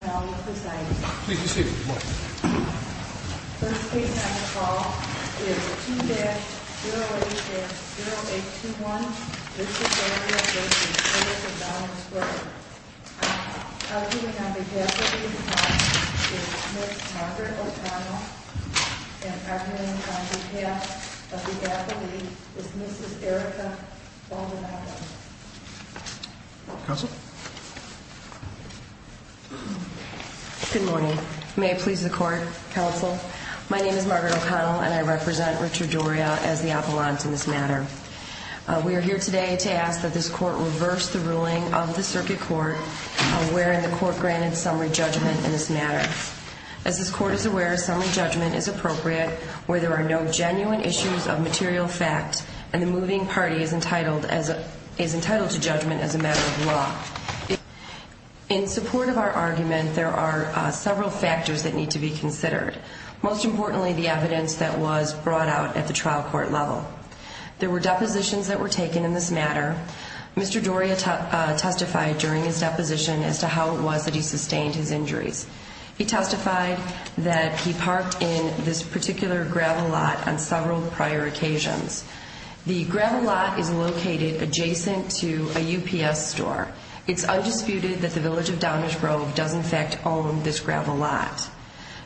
First patient on the call is 2-08-0821. This is Doria v. Village of Downers Grove. Outputting on behalf of these patients is Ms. Margaret O'Connell. And outputting on behalf of the faculty is Mrs. Erica Baldonado. Counsel? Good morning. May it please the Court, Counsel? My name is Margaret O'Connell and I represent Richard Doria as the appellant in this matter. We are here today to ask that this Court reverse the ruling of the Circuit Court wherein the Court granted summary judgment in this matter. As this Court is aware, summary judgment is appropriate where there are no genuine issues of material fact and the moving party is entitled to judgment as a matter of law. In support of our argument, there are several factors that need to be considered. Most importantly, the evidence that was brought out at the trial court level. There were depositions that were taken in this matter. Mr. Doria testified during his deposition as to how it was that he sustained his injuries. He testified that he parked in this particular gravel lot on several prior occasions. The gravel lot is located adjacent to a UPS store. It's undisputed that the Village of Downers Grove does in fact own this gravel lot.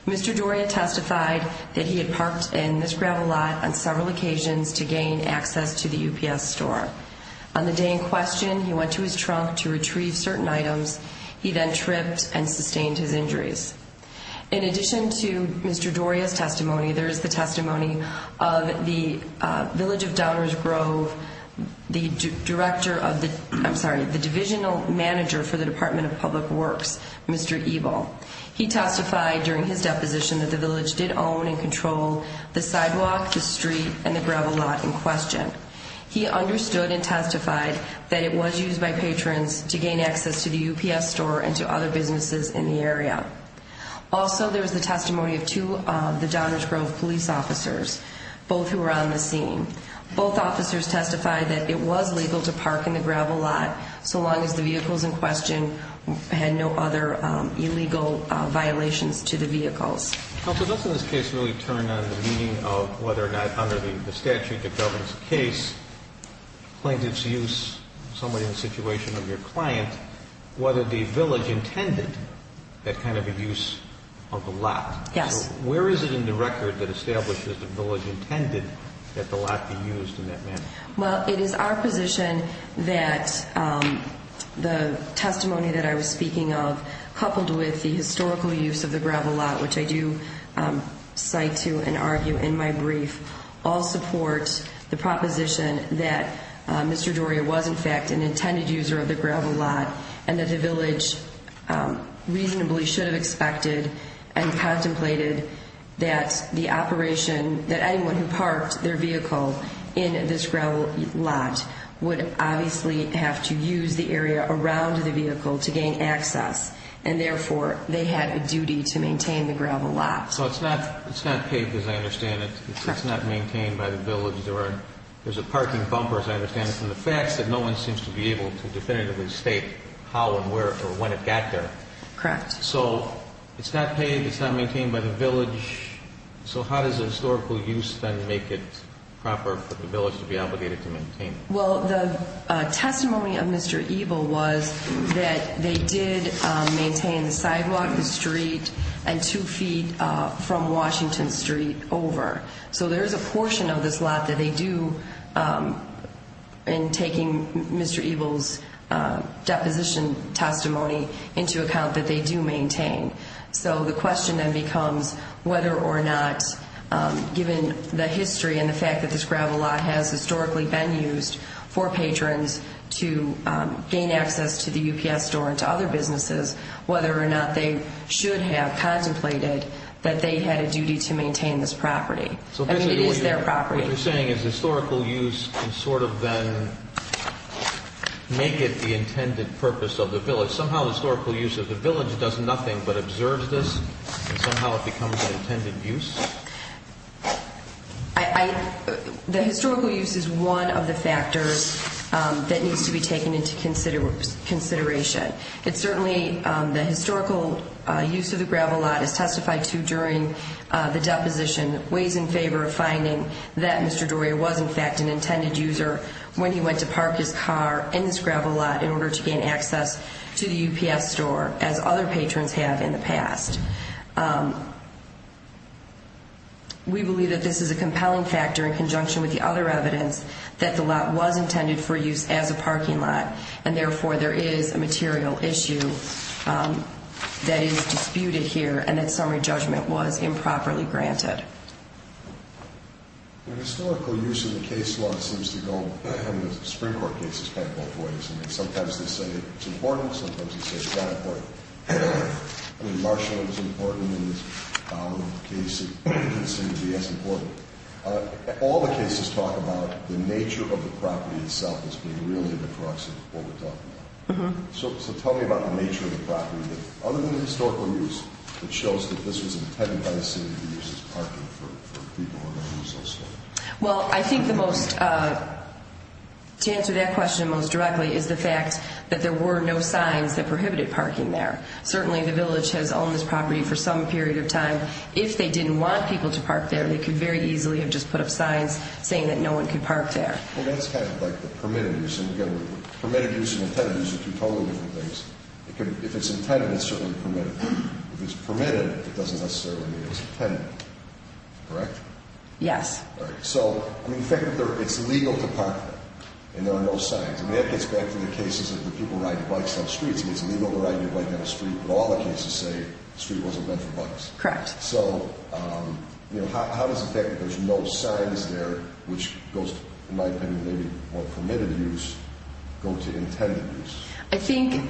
Mr. Doria testified that he had parked in this gravel lot on several occasions to gain access to the UPS store. On the day in question, he went to his trunk to retrieve certain items. He then tripped and sustained his injuries. In addition to Mr. Doria's testimony, there is the testimony of the Village of Downers Grove, the divisional manager for the Department of Public Works, Mr. Ebel. He testified during his deposition that the Village did own and control the sidewalk, the street, and the gravel lot in question. He understood and testified that it was used by patrons to gain access to the UPS store and to other businesses in the area. Also, there is the testimony of two of the Downers Grove police officers, both who were on the scene. Both officers testified that it was legal to park in the gravel lot, so long as the vehicles in question had no other illegal violations to the vehicles. Counsel, doesn't this case really turn on the meaning of whether or not under the statute, the government's case, plaintiff's use, somebody in the situation of your client, whether the Village intended that kind of use of the lot? Yes. Where is it in the record that establishes the Village intended that the lot be used in that manner? Well, it is our position that the testimony that I was speaking of, coupled with the historical use of the gravel lot, which I do cite to and argue in my brief, all support the proposition that Mr. Doria was, in fact, an intended user of the gravel lot and that the Village reasonably should have expected and contemplated that the operation, that anyone who parked their vehicle in this gravel lot would obviously have to use the area around the vehicle to gain access. And therefore, they had a duty to maintain the gravel lot. So it's not paid, as I understand it. Correct. It's not maintained by the Village. There's a parking bumper, as I understand it, from the facts that no one seems to be able to definitively state how and where or when it got there. Correct. So it's not paid. It's not maintained by the Village. So how does the historical use then make it proper for the Village to be obligated to maintain it? Well, the testimony of Mr. Ebel was that they did maintain the sidewalk, the street, and two feet from Washington Street over. So there is a portion of this lot that they do in taking Mr. Ebel's deposition testimony into account that they do maintain. So the question then becomes whether or not, given the history and the fact that this gravel lot has historically been used for patrons to gain access to the UPS store and to other businesses, whether or not they should have contemplated that they had a duty to maintain this property. I mean, it is their property. So basically what you're saying is historical use can sort of then make it the intended purpose of the Village. So somehow the historical use of the Village does nothing but observe this and somehow it becomes the intended use? The historical use is one of the factors that needs to be taken into consideration. It's certainly the historical use of the gravel lot as testified to during the deposition weighs in favor of finding that Mr. Doria was in fact an intended user when he went to park his car in this gravel lot in order to gain access to the UPS store, as other patrons have in the past. We believe that this is a compelling factor in conjunction with the other evidence that the lot was intended for use as a parking lot and therefore there is a material issue that is disputed here and that summary judgment was improperly granted. The historical use in the case law seems to go, I mean, the Supreme Court case is kind of both ways. I mean, sometimes they say it's important, sometimes they say it's not important. I mean, Marshall is important in this case, it doesn't seem to be as important. All the cases talk about the nature of the property itself as being really the crux of what we're talking about. Other than the historical use, it shows that this was intended by the city to be used as parking for people who are not used also. Well, I think the most, to answer that question most directly, is the fact that there were no signs that prohibited parking there. Certainly the village has owned this property for some period of time. If they didn't want people to park there, they could very easily have just put up signs saying that no one could park there. Well, that's kind of like the permitted use, and again, permitted use and intended use are two totally different things. If it's intended, it's certainly permitted. If it's permitted, it doesn't necessarily mean it's intended. Correct? Yes. All right. So, I mean, the fact that it's legal to park there and there are no signs, I mean, that gets back to the cases of the people riding bikes down the streets. I mean, it's legal to ride your bike down the street, but all the cases say the street wasn't meant for bikes. Correct. So, you know, how does the fact that there's no signs there, which goes, in my opinion, maybe more permitted use, go to intended use? I think you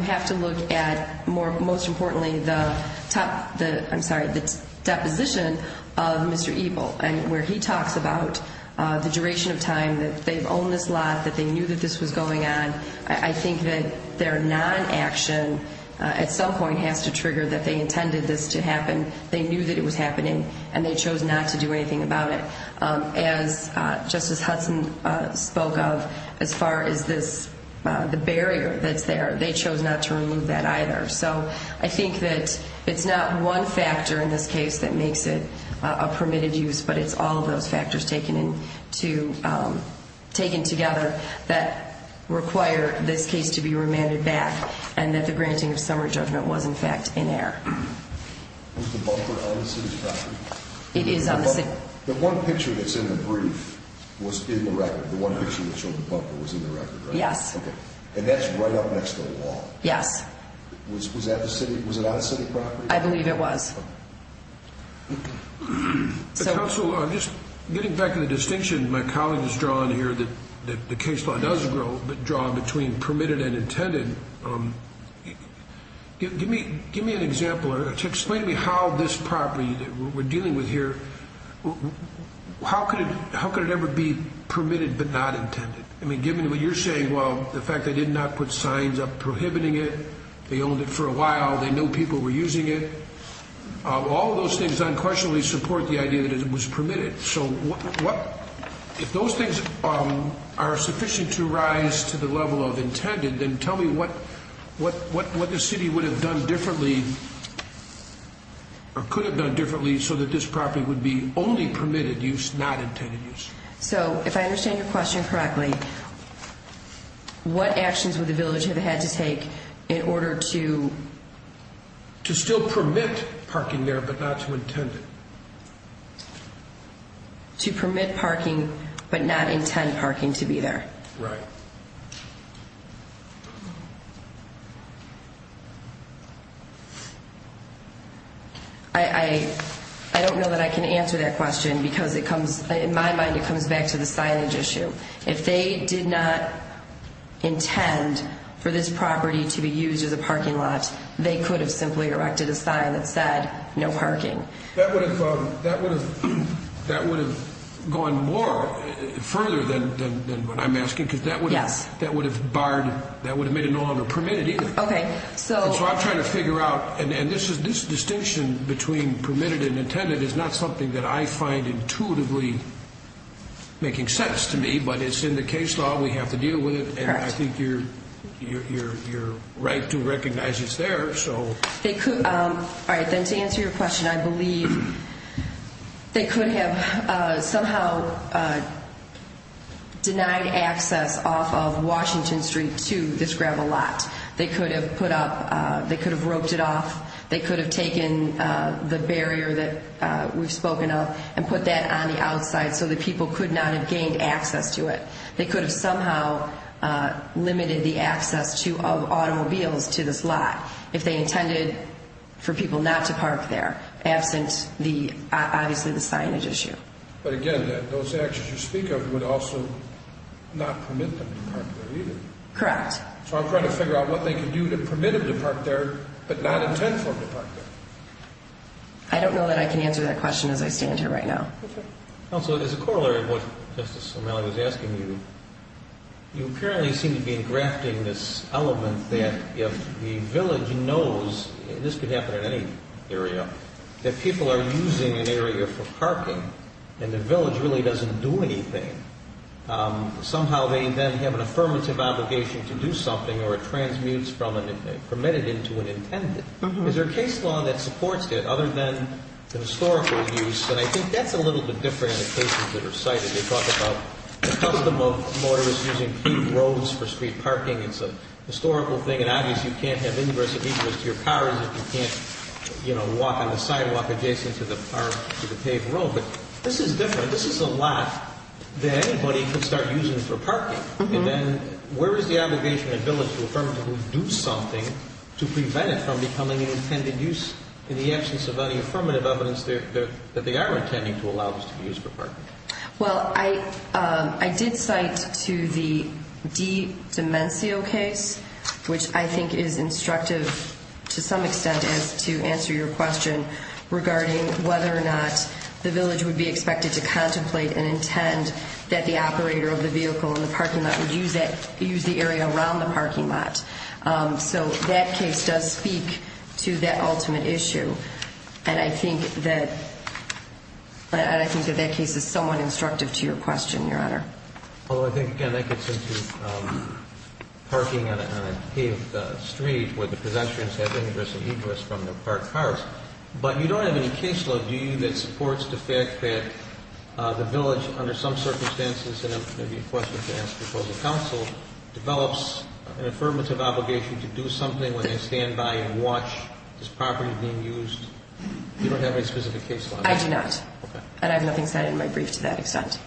have to look at, most importantly, the top, I'm sorry, the deposition of Mr. Ebel, where he talks about the duration of time that they've owned this lot, that they knew that this was going on. I think that their non-action at some point has to trigger that they intended this to happen. They knew that it was happening, and they chose not to do anything about it. As Justice Hudson spoke of, as far as the barrier that's there, they chose not to remove that either. So I think that it's not one factor in this case that makes it a permitted use, but it's all of those factors taken together that require this case to be remanded back and that the granting of summary judgment was, in fact, in error. Was the bumper on the city property? It is on the city property. The one picture that's in the brief was in the record. The one picture that showed the bumper was in the record, right? Yes. And that's right up next to the wall? Yes. Was it on the city property? I believe it was. Counsel, just getting back to the distinction my colleague has drawn here, that the case law does draw between permitted and intended, give me an example. Explain to me how this property that we're dealing with here, how could it ever be permitted but not intended? I mean, given what you're saying, well, the fact they did not put signs up prohibiting it, they owned it for a while, they knew people were using it, all of those things unquestionably support the idea that it was permitted. So if those things are sufficient to rise to the level of intended, then tell me what the city would have done differently or could have done differently so that this property would be only permitted use, not intended use? So if I understand your question correctly, what actions would the village have had to take in order to? To still permit parking there but not to intend it. To permit parking but not intend parking to be there. Right. I don't know that I can answer that question because it comes, in my mind, it comes back to the signage issue. If they did not intend for this property to be used as a parking lot, they could have simply erected a sign that said no parking. That would have gone more further than what I'm asking because that would have made it no longer permitted either. Okay. So I'm trying to figure out, and this distinction between permitted and intended is not something that I find intuitively making sense to me, but it's in the case law, we have to deal with it, and I think you're right to recognize it's there. All right. Then to answer your question, I believe they could have somehow denied access off of Washington Street to this gravel lot. They could have put up, they could have roped it off, they could have taken the barrier that we've spoken of and put that on the outside so that people could not have gained access to it. They could have somehow limited the access of automobiles to this lot if they intended for people not to park there, absent, obviously, the signage issue. But again, those actions you speak of would also not permit them to park there either. Correct. So I'm trying to figure out what they could do to permit them to park there but not intend for them to park there. I don't know that I can answer that question as I stand here right now. Okay. Counsel, as a corollary of what Justice O'Malley was asking you, you apparently seem to be engrafting this element that if the village knows, and this could happen in any area, that people are using an area for parking and the village really doesn't do anything, somehow they then have an affirmative obligation to do something or it transmutes from a permitted into an intended. Is there a case law that supports it other than the historical use? And I think that's a little bit different in the cases that are cited. They talk about the custom of motorists using paved roads for street parking. It's a historical thing. And obviously, you can't have ingress and egress to your cars if you can't walk on the sidewalk adjacent to the paved road. But this is different. This is a lot that anybody could start using for parking. And then where is the obligation of the village to affirmatively do something to prevent it from becoming an intended use in the absence of any affirmative evidence that they are intending to allow this to be used for parking? Well, I did cite to the D Dimencio case, which I think is instructive to some extent as to answer your question regarding whether or not the village would be expected to contemplate and intend that the operator of the vehicle in the parking lot would use the area around the parking lot. So that case does speak to that ultimate issue. And I think that that case is somewhat instructive to your question, Your Honor. Well, I think, again, that gets into parking on a paved street where the possessions have ingress and egress from their parked cars. But you don't have any case law, do you, that supports the fact that the village, under some circumstances, and it may be a question to ask the proposal counsel, develops an affirmative obligation to do something when they stand by and watch this property being used? You don't have any specific case law? I do not. And I have nothing cited in my brief to that extent.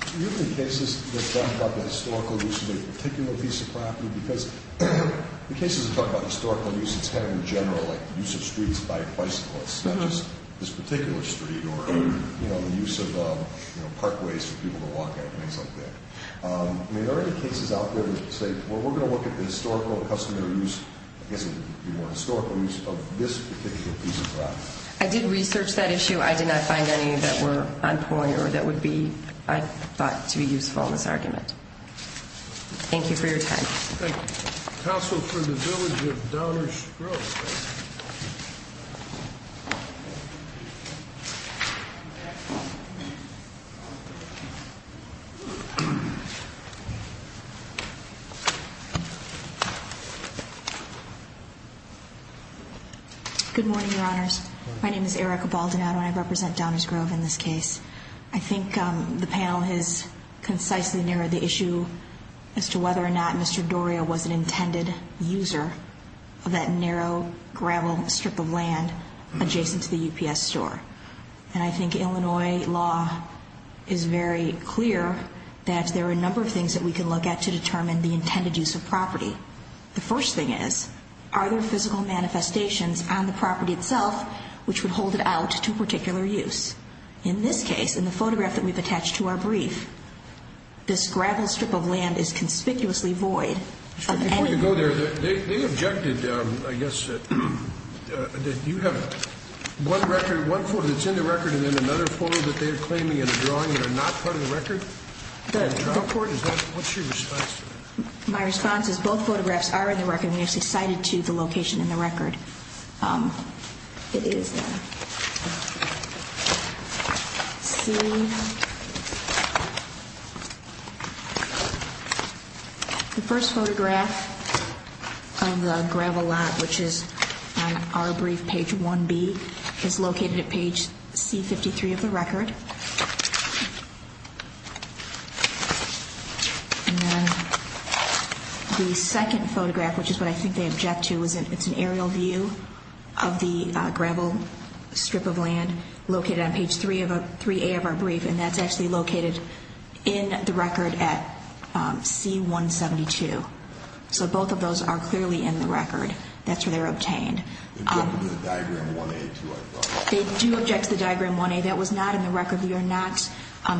Are there any cases that talk about the historical use of a particular piece of property? Because the cases that talk about historical use, it's kind of in general like the use of streets by bicyclists, such as this particular street or the use of parkways for people to walk at and things like that. Are there any cases out there that say, well, we're going to look at the historical and customary use, I guess it would be more historical use, of this particular piece of property? I did research that issue. I did not find any that were on point or that would be, I thought, to be useful in this argument. Thank you for your time. Thank you. Counsel for the village of Downers Grove. Good morning, Your Honors. My name is Erica Baldinado and I represent Downers Grove in this case. I think the panel has concisely narrowed the issue as to whether or not Mr. Doria was an intended user of that narrow gravel strip of land adjacent to the UPS store. And I think Illinois law is very clear that there are a number of things that we can look at to determine the intended use of property. The first thing is, are there physical manifestations on the property itself which would hold it out to particular use? In this case, in the photograph that we've attached to our brief, this gravel strip of land is conspicuously void of any use. Before you go there, they objected, I guess, that you have one record, one photo that's in the record, and then another photo that they're claiming in a drawing that are not part of the record? What's your response to that? My response is both photographs are in the record and they're cited to the location in the record. It is there. C. The first photograph of the gravel lot, which is on our brief, page 1B, is located at page C53 of the record. The second photograph, which is what I think they object to, is an aerial view of the gravel strip of land located on page 3A of our brief, and that's actually located in the record at C172. So both of those are clearly in the record. That's where they're obtained. They do object to the diagram 1A, too, I thought. We are not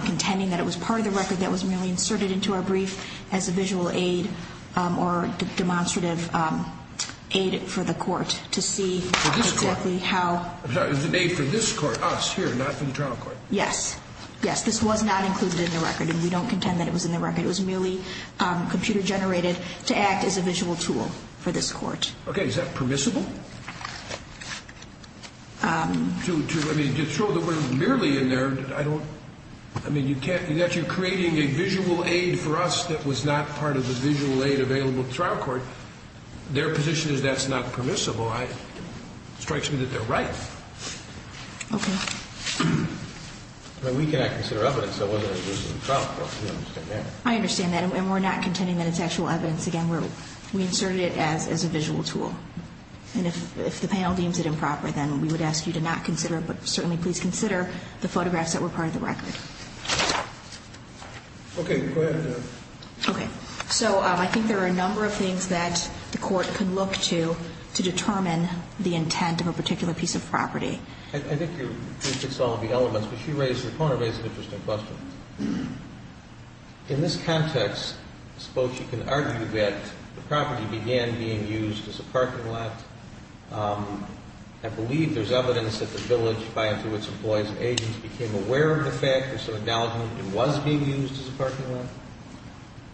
contending that it was part of the record that was merely inserted into our brief as a visual aid or demonstrative aid for the court to see exactly how. It was an aid for this court, us here, not for the trial court. Yes. Yes, this was not included in the record, and we don't contend that it was in the record. It was merely computer-generated to act as a visual tool for this court. Okay, is that permissible? I mean, to show that we're merely in there, I don't – I mean, you can't – you're creating a visual aid for us that was not part of the visual aid available to the trial court. Their position is that's not permissible. It strikes me that they're right. Okay. I mean, we cannot consider evidence of whether it was in the trial court. We don't understand that. I understand that, and we're not contending that it's actual evidence. Again, we inserted it as a visual tool. And if the panel deems it improper, then we would ask you to not consider it, but certainly please consider the photographs that were part of the record. Okay. Go ahead. Okay. So I think there are a number of things that the court could look to to determine the intent of a particular piece of property. I think you're – you've fixed all of the elements, but you raised – your opponent raised an interesting question. In this context, suppose you can argue that the property began being used as a parking lot. I believe there's evidence that the village, by and through its employees and agents, became aware of the fact or some acknowledgement that it was being used as a parking lot.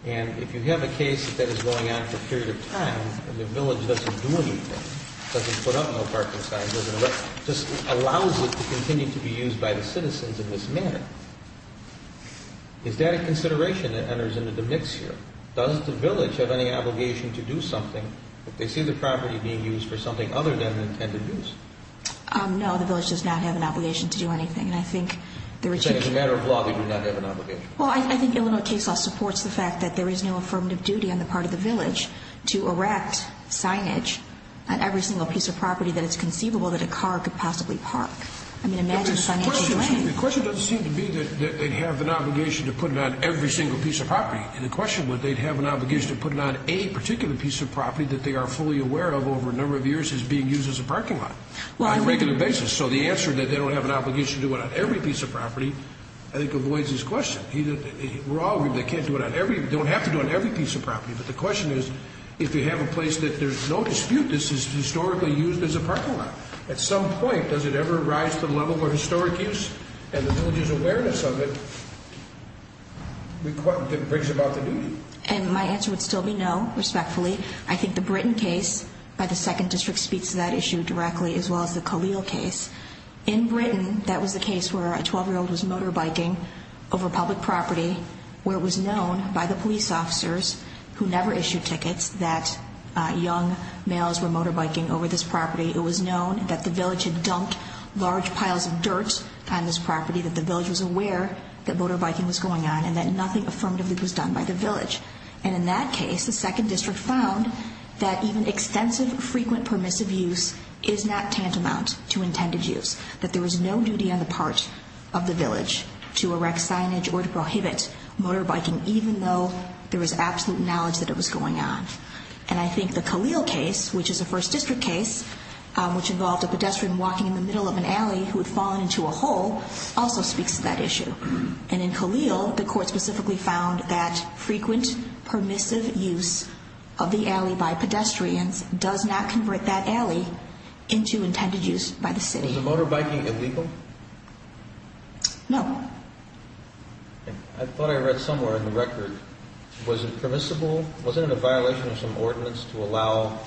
And if you have a case that that is going on for a period of time and the village doesn't do anything, doesn't put up no parking signs, doesn't let – just allows it to continue to be used by the citizens in this manner, is that a consideration that enters into the mix here? Does the village have any obligation to do something if they see the property being used for something other than an intended use? No. The village does not have an obligation to do anything. And I think the – You're saying as a matter of law they do not have an obligation. Well, I think Illinois case law supports the fact that there is no affirmative duty on the part of the village to erect signage on every single piece of property that it's conceivable that a car could possibly park. I mean, imagine if I'm issuing – piece of property. And the question was they'd have an obligation to put it on a particular piece of property that they are fully aware of over a number of years as being used as a parking lot on a regular basis. So the answer that they don't have an obligation to do it on every piece of property I think avoids this question. We're all – they can't do it on every – don't have to do it on every piece of property. But the question is if you have a place that there's no dispute this is historically used as a parking lot, at some point does it ever rise to the level where historic use and the village's awareness of it brings about the duty? And my answer would still be no, respectfully. I think the Britton case by the 2nd District speaks to that issue directly as well as the Khalil case. In Britton that was the case where a 12-year-old was motorbiking over public property where it was known by the police officers who never issued tickets that young males were motorbiking over this property. It was known that the village had dumped large piles of dirt on this property, that the village was aware that motorbiking was going on and that nothing affirmatively was done by the village. And in that case the 2nd District found that even extensive frequent permissive use is not tantamount to intended use. That there was no duty on the part of the village to erect signage or to prohibit motorbiking even though there was absolute knowledge that it was going on. And I think the Khalil case, which is a 1st District case, which involved a pedestrian walking in the middle of an alley who had fallen into a hole, also speaks to that issue. And in Khalil the court specifically found that frequent permissive use of the alley by pedestrians does not convert that alley into intended use by the city. Was the motorbiking illegal? No. I thought I read somewhere in the record. Was it permissible? Was it a violation of some ordinance to allow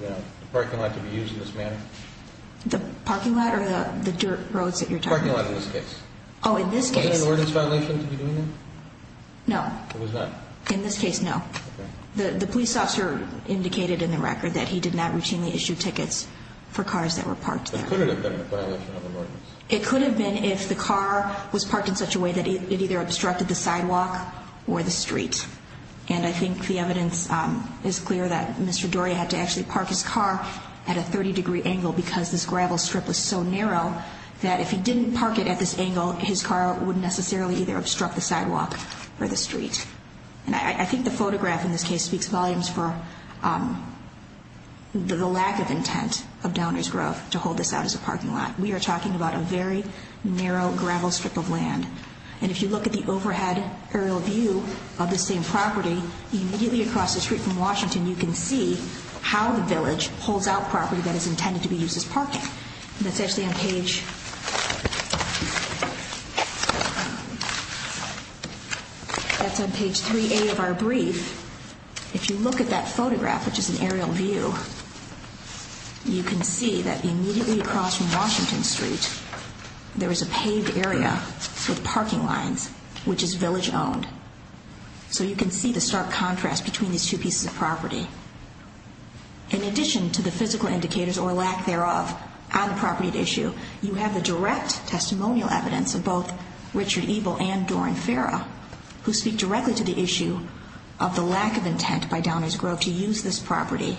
the parking lot to be used in this manner? The parking lot or the dirt roads that you're talking about? The parking lot in this case. Oh, in this case. Was it an ordinance violation to be doing that? No. It was not? In this case, no. The police officer indicated in the record that he did not routinely issue tickets for cars that were parked there. But could it have been a violation of an ordinance? It could have been if the car was parked in such a way that it either obstructed the sidewalk or the street. And I think the evidence is clear that Mr. Doria had to actually park his car at a 30-degree angle because this gravel strip was so narrow that if he didn't park it at this angle, his car would necessarily either obstruct the sidewalk or the street. And I think the photograph in this case speaks volumes for the lack of intent of Downers Grove to hold this out as a parking lot. We are talking about a very narrow gravel strip of land. And if you look at the overhead aerial view of the same property, immediately across the street from Washington, you can see how the village holds out property that is intended to be used as parking. That's actually on page 3A of our brief. If you look at that photograph, which is an aerial view, you can see that immediately across from Washington Street, there is a paved area with parking lines, which is village owned. So you can see the stark contrast between these two pieces of property. In addition to the physical indicators or lack thereof on the property at issue, you have the direct testimonial evidence of both Richard Ebel and Dorin Farah, who speak directly to the issue of the lack of intent by Downers Grove to use this property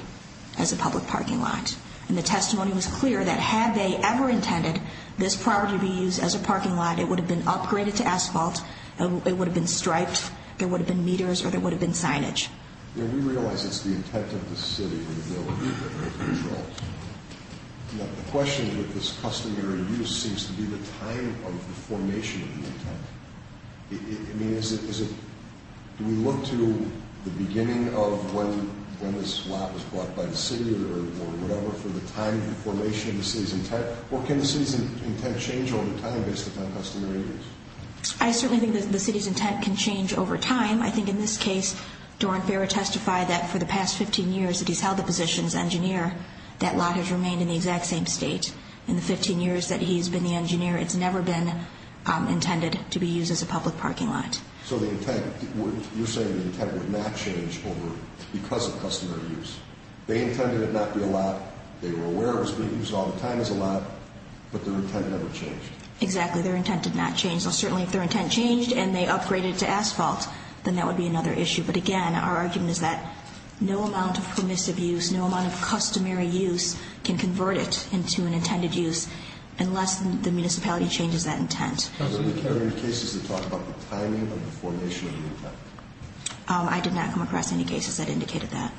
as a public parking lot. And the testimony was clear that had they ever intended this property to be used as a parking lot, it would have been upgraded to asphalt, it would have been striped, there would have been meters, or there would have been signage. We realize it's the intent of the city for the building to be controlled. The question with this customary use seems to be the time of the formation of the intent. Do we look to the beginning of when this lot was bought by the city or whatever for the time of the formation of the city's intent? Or can the city's intent change over time based upon customary use? I certainly think the city's intent can change over time. I think in this case, Dorin Farah testified that for the past 15 years that he's held the position as engineer, that lot has remained in the exact same state. In the 15 years that he's been the engineer, it's never been intended to be used as a public parking lot. So the intent, you're saying the intent would not change over, because of customary use. They intended it not be allowed, they were aware it was being used all the time as a lot, but their intent never changed. Exactly, their intent did not change. Now certainly if their intent changed and they upgraded it to asphalt, then that would be another issue. But again, our argument is that no amount of permissive use, no amount of customary use can convert it into an intended use unless the municipality changes that intent. Counsel, did you carry any cases that talk about the timing of the formation of the intent? I did not come across any cases that indicated that.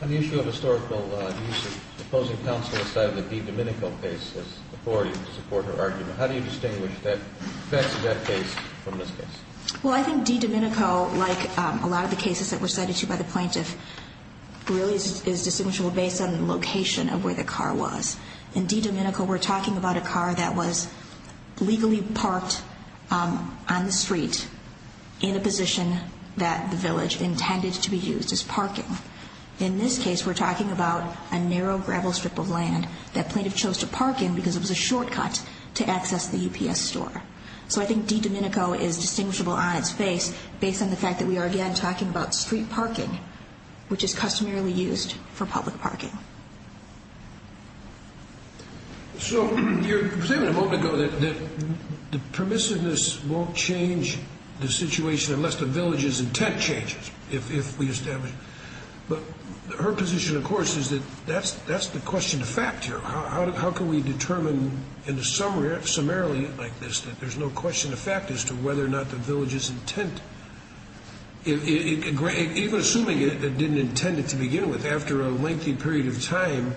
On the issue of historical use, the opposing counsel cited the DiDomenico case as authority to support her argument. How do you distinguish the effects of that case from this case? Well, I think DiDomenico, like a lot of the cases that were cited by the plaintiff, really is distinguishable based on the location of where the car was. In DiDomenico, we're talking about a car that was legally parked on the street in a position that the village intended to be used as parking. In this case, we're talking about a narrow gravel strip of land that plaintiff chose to park in because it was a shortcut to access the UPS store. So I think DiDomenico is distinguishable on its face based on the fact that we are again talking about street parking, which is customarily used for public parking. So you were saying a moment ago that the permissiveness won't change the situation unless the village's intent changes, if we establish it. But her position, of course, is that that's the question of fact here. How can we determine in a summary like this that there's no question of fact as to whether or not the village's intent, even assuming it didn't intend it to begin with, after a lengthy period of time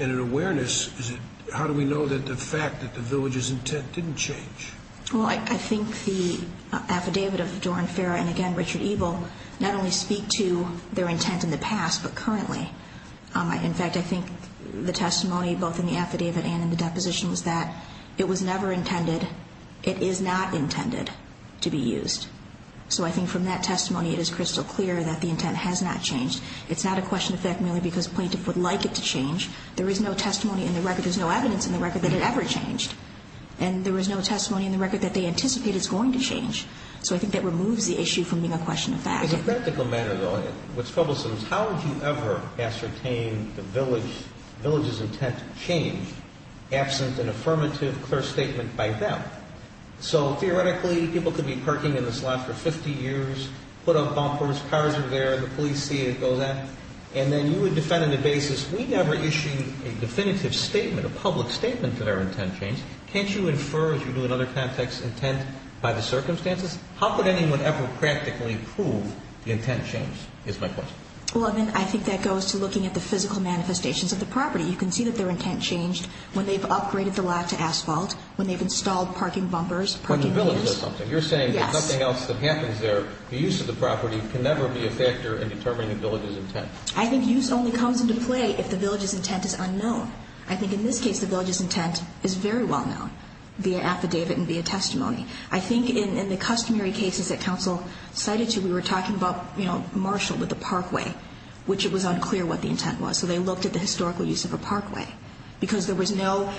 and an awareness, how do we know that the fact that the village's intent didn't change? Well, I think the affidavit of Doran Farah and, again, Richard Ebel, not only speak to their intent in the past but currently. In fact, I think the testimony both in the affidavit and in the deposition was that it was never intended. It is not intended to be used. So I think from that testimony it is crystal clear that the intent has not changed. It's not a question of fact merely because a plaintiff would like it to change. There is no testimony in the record. There's no evidence in the record that it ever changed. And there was no testimony in the record that they anticipate it's going to change. So I think that removes the issue from being a question of fact. As a practical matter, though, what's troublesome is how would you ever ascertain the village's intent changed absent an affirmative, clear statement by them? So, theoretically, people could be parking in this lot for 50 years, put up bumpers, cars are there, the police see it, go there, and then you would defend on the basis, we never issue a definitive statement, a public statement that our intent changed. Can't you infer, as you do in other contexts, intent by the circumstances? How could anyone ever practically prove the intent changed is my question. Well, I think that goes to looking at the physical manifestations of the property. You can see that their intent changed when they've upgraded the lot to asphalt, when they've installed parking bumpers, parking meters. You're saying that something else that happens there, the use of the property, can never be a factor in determining the village's intent. I think use only comes into play if the village's intent is unknown. I think in this case the village's intent is very well known via affidavit and via testimony. I think in the customary cases that counsel cited to, we were talking about Marshall with the parkway, which it was unclear what the intent was. So they looked at the historical use of a parkway, because there was no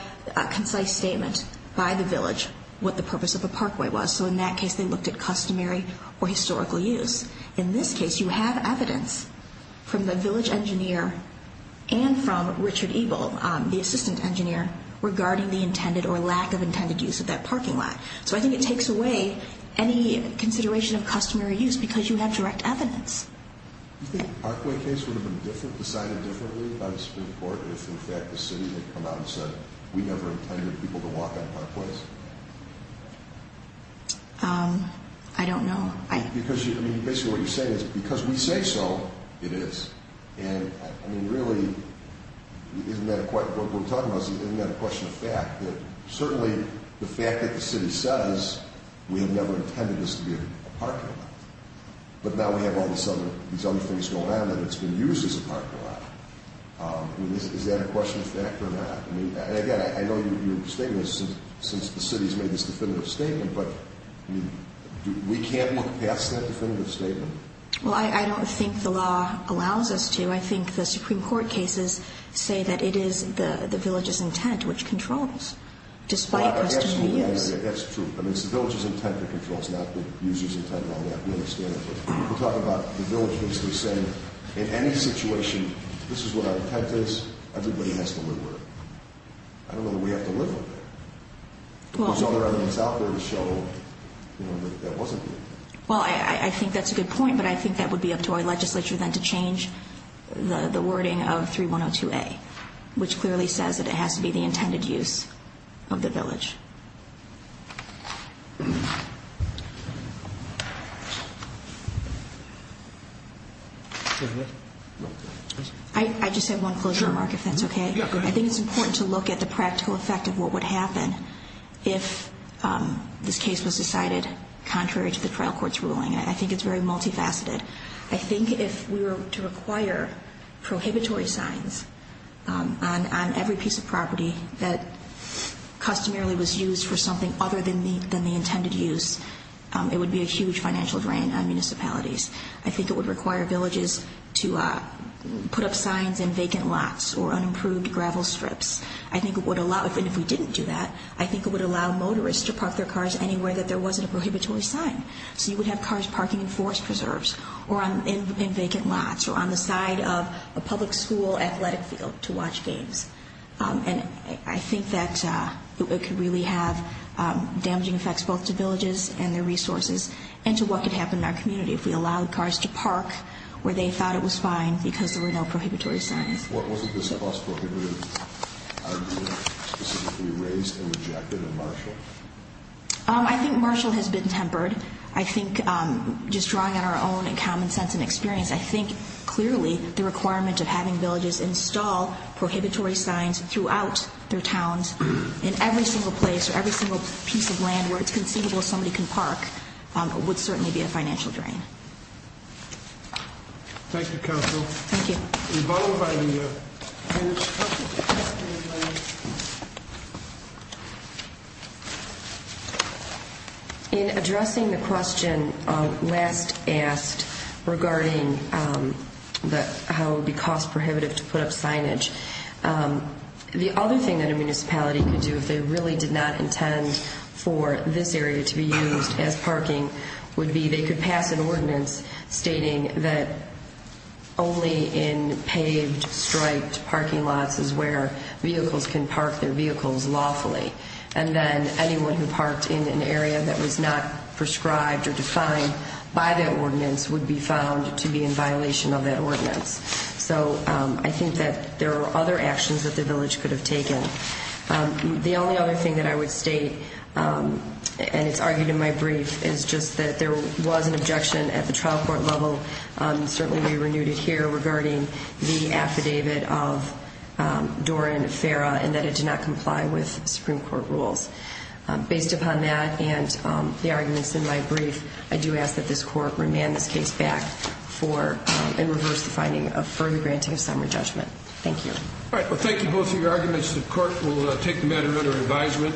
concise statement by the village what the purpose of the parkway was. So in that case they looked at customary or historical use. In this case you have evidence from the village engineer and from Richard Eagle, the assistant engineer, regarding the intended or lack of intended use of that parking lot. So I think it takes away any consideration of customary use because you have direct evidence. Do you think the parkway case would have been decided differently by the Supreme Court if in fact the city had come out and said we never intended people to walk on parkways? I don't know. Because, I mean, basically what you're saying is because we say so, it is. And, I mean, really, isn't that a question of fact? That certainly the fact that the city says we have never intended this to be a parking lot, but now we have all these other things going on and it's been used as a parking lot. I mean, is that a question of fact or not? And, again, I know you're stating this since the city has made this definitive statement, but we can't look past that definitive statement. Well, I don't think the law allows us to. I think the Supreme Court cases say that it is the village's intent which controls despite customary use. That's true. I mean, it's the village's intent that controls, not the user's intent on that. We understand that. But you're talking about the village basically saying in any situation this is what our intent is, everybody has to live with it. I don't know that we have to live with it. There's other evidence out there to show that that wasn't the intent. Well, I think that's a good point, but I think that would be up to our legislature then to change the wording of 3102A, which clearly says that it has to be the intended use of the village. I just have one closing remark, if that's okay. Yeah, go ahead. I think it's important to look at the practical effect of what would happen if this case was decided contrary to the trial court's ruling. I think it's very multifaceted. I think if we were to require prohibitory signs on every piece of property that customarily was used for something other than the intended use, it would be a huge financial drain on municipalities. I think it would require villages to put up signs in vacant lots or unimproved gravel strips. And if we didn't do that, I think it would allow motorists to park their cars anywhere that there wasn't a prohibitory sign. So you would have cars parking in forest preserves or in vacant lots or on the side of a public school athletic field to watch games. And I think that it could really have damaging effects both to villages and their resources and to what could happen in our community if we allowed cars to park where they thought it was fine because there were no prohibitory signs. What was it that the House prohibitive argument specifically raised and rejected in Marshall? I think Marshall has been tempered. I think just drawing on our own common sense and experience, I think clearly the requirement of having villages install prohibitory signs throughout their towns in every single place or every single piece of land where it's conceivable somebody can park would certainly be a financial drain. Thank you, Counsel. Thank you. And followed by you. In addressing the question last asked regarding how it would be cost prohibitive to put up signage, the other thing that a municipality could do if they really did not intend for this area to be used as parking would be they could pass an ordinance stating that only in paved, striped parking lots is where vehicles can park their vehicles lawfully. And then anyone who parked in an area that was not prescribed or defined by that ordinance would be found to be in violation of that ordinance. So I think that there are other actions that the village could have taken. The only other thing that I would state, and it's argued in my brief, is just that there was an objection at the trial court level, certainly we renewed it here, regarding the affidavit of Doran Farah and that it did not comply with Supreme Court rules. Based upon that and the arguments in my brief, I do ask that this court remand this case back and reverse the finding of further granting of summary judgment. Thank you. All right, well thank you both for your arguments. The court will take the matter under advisement.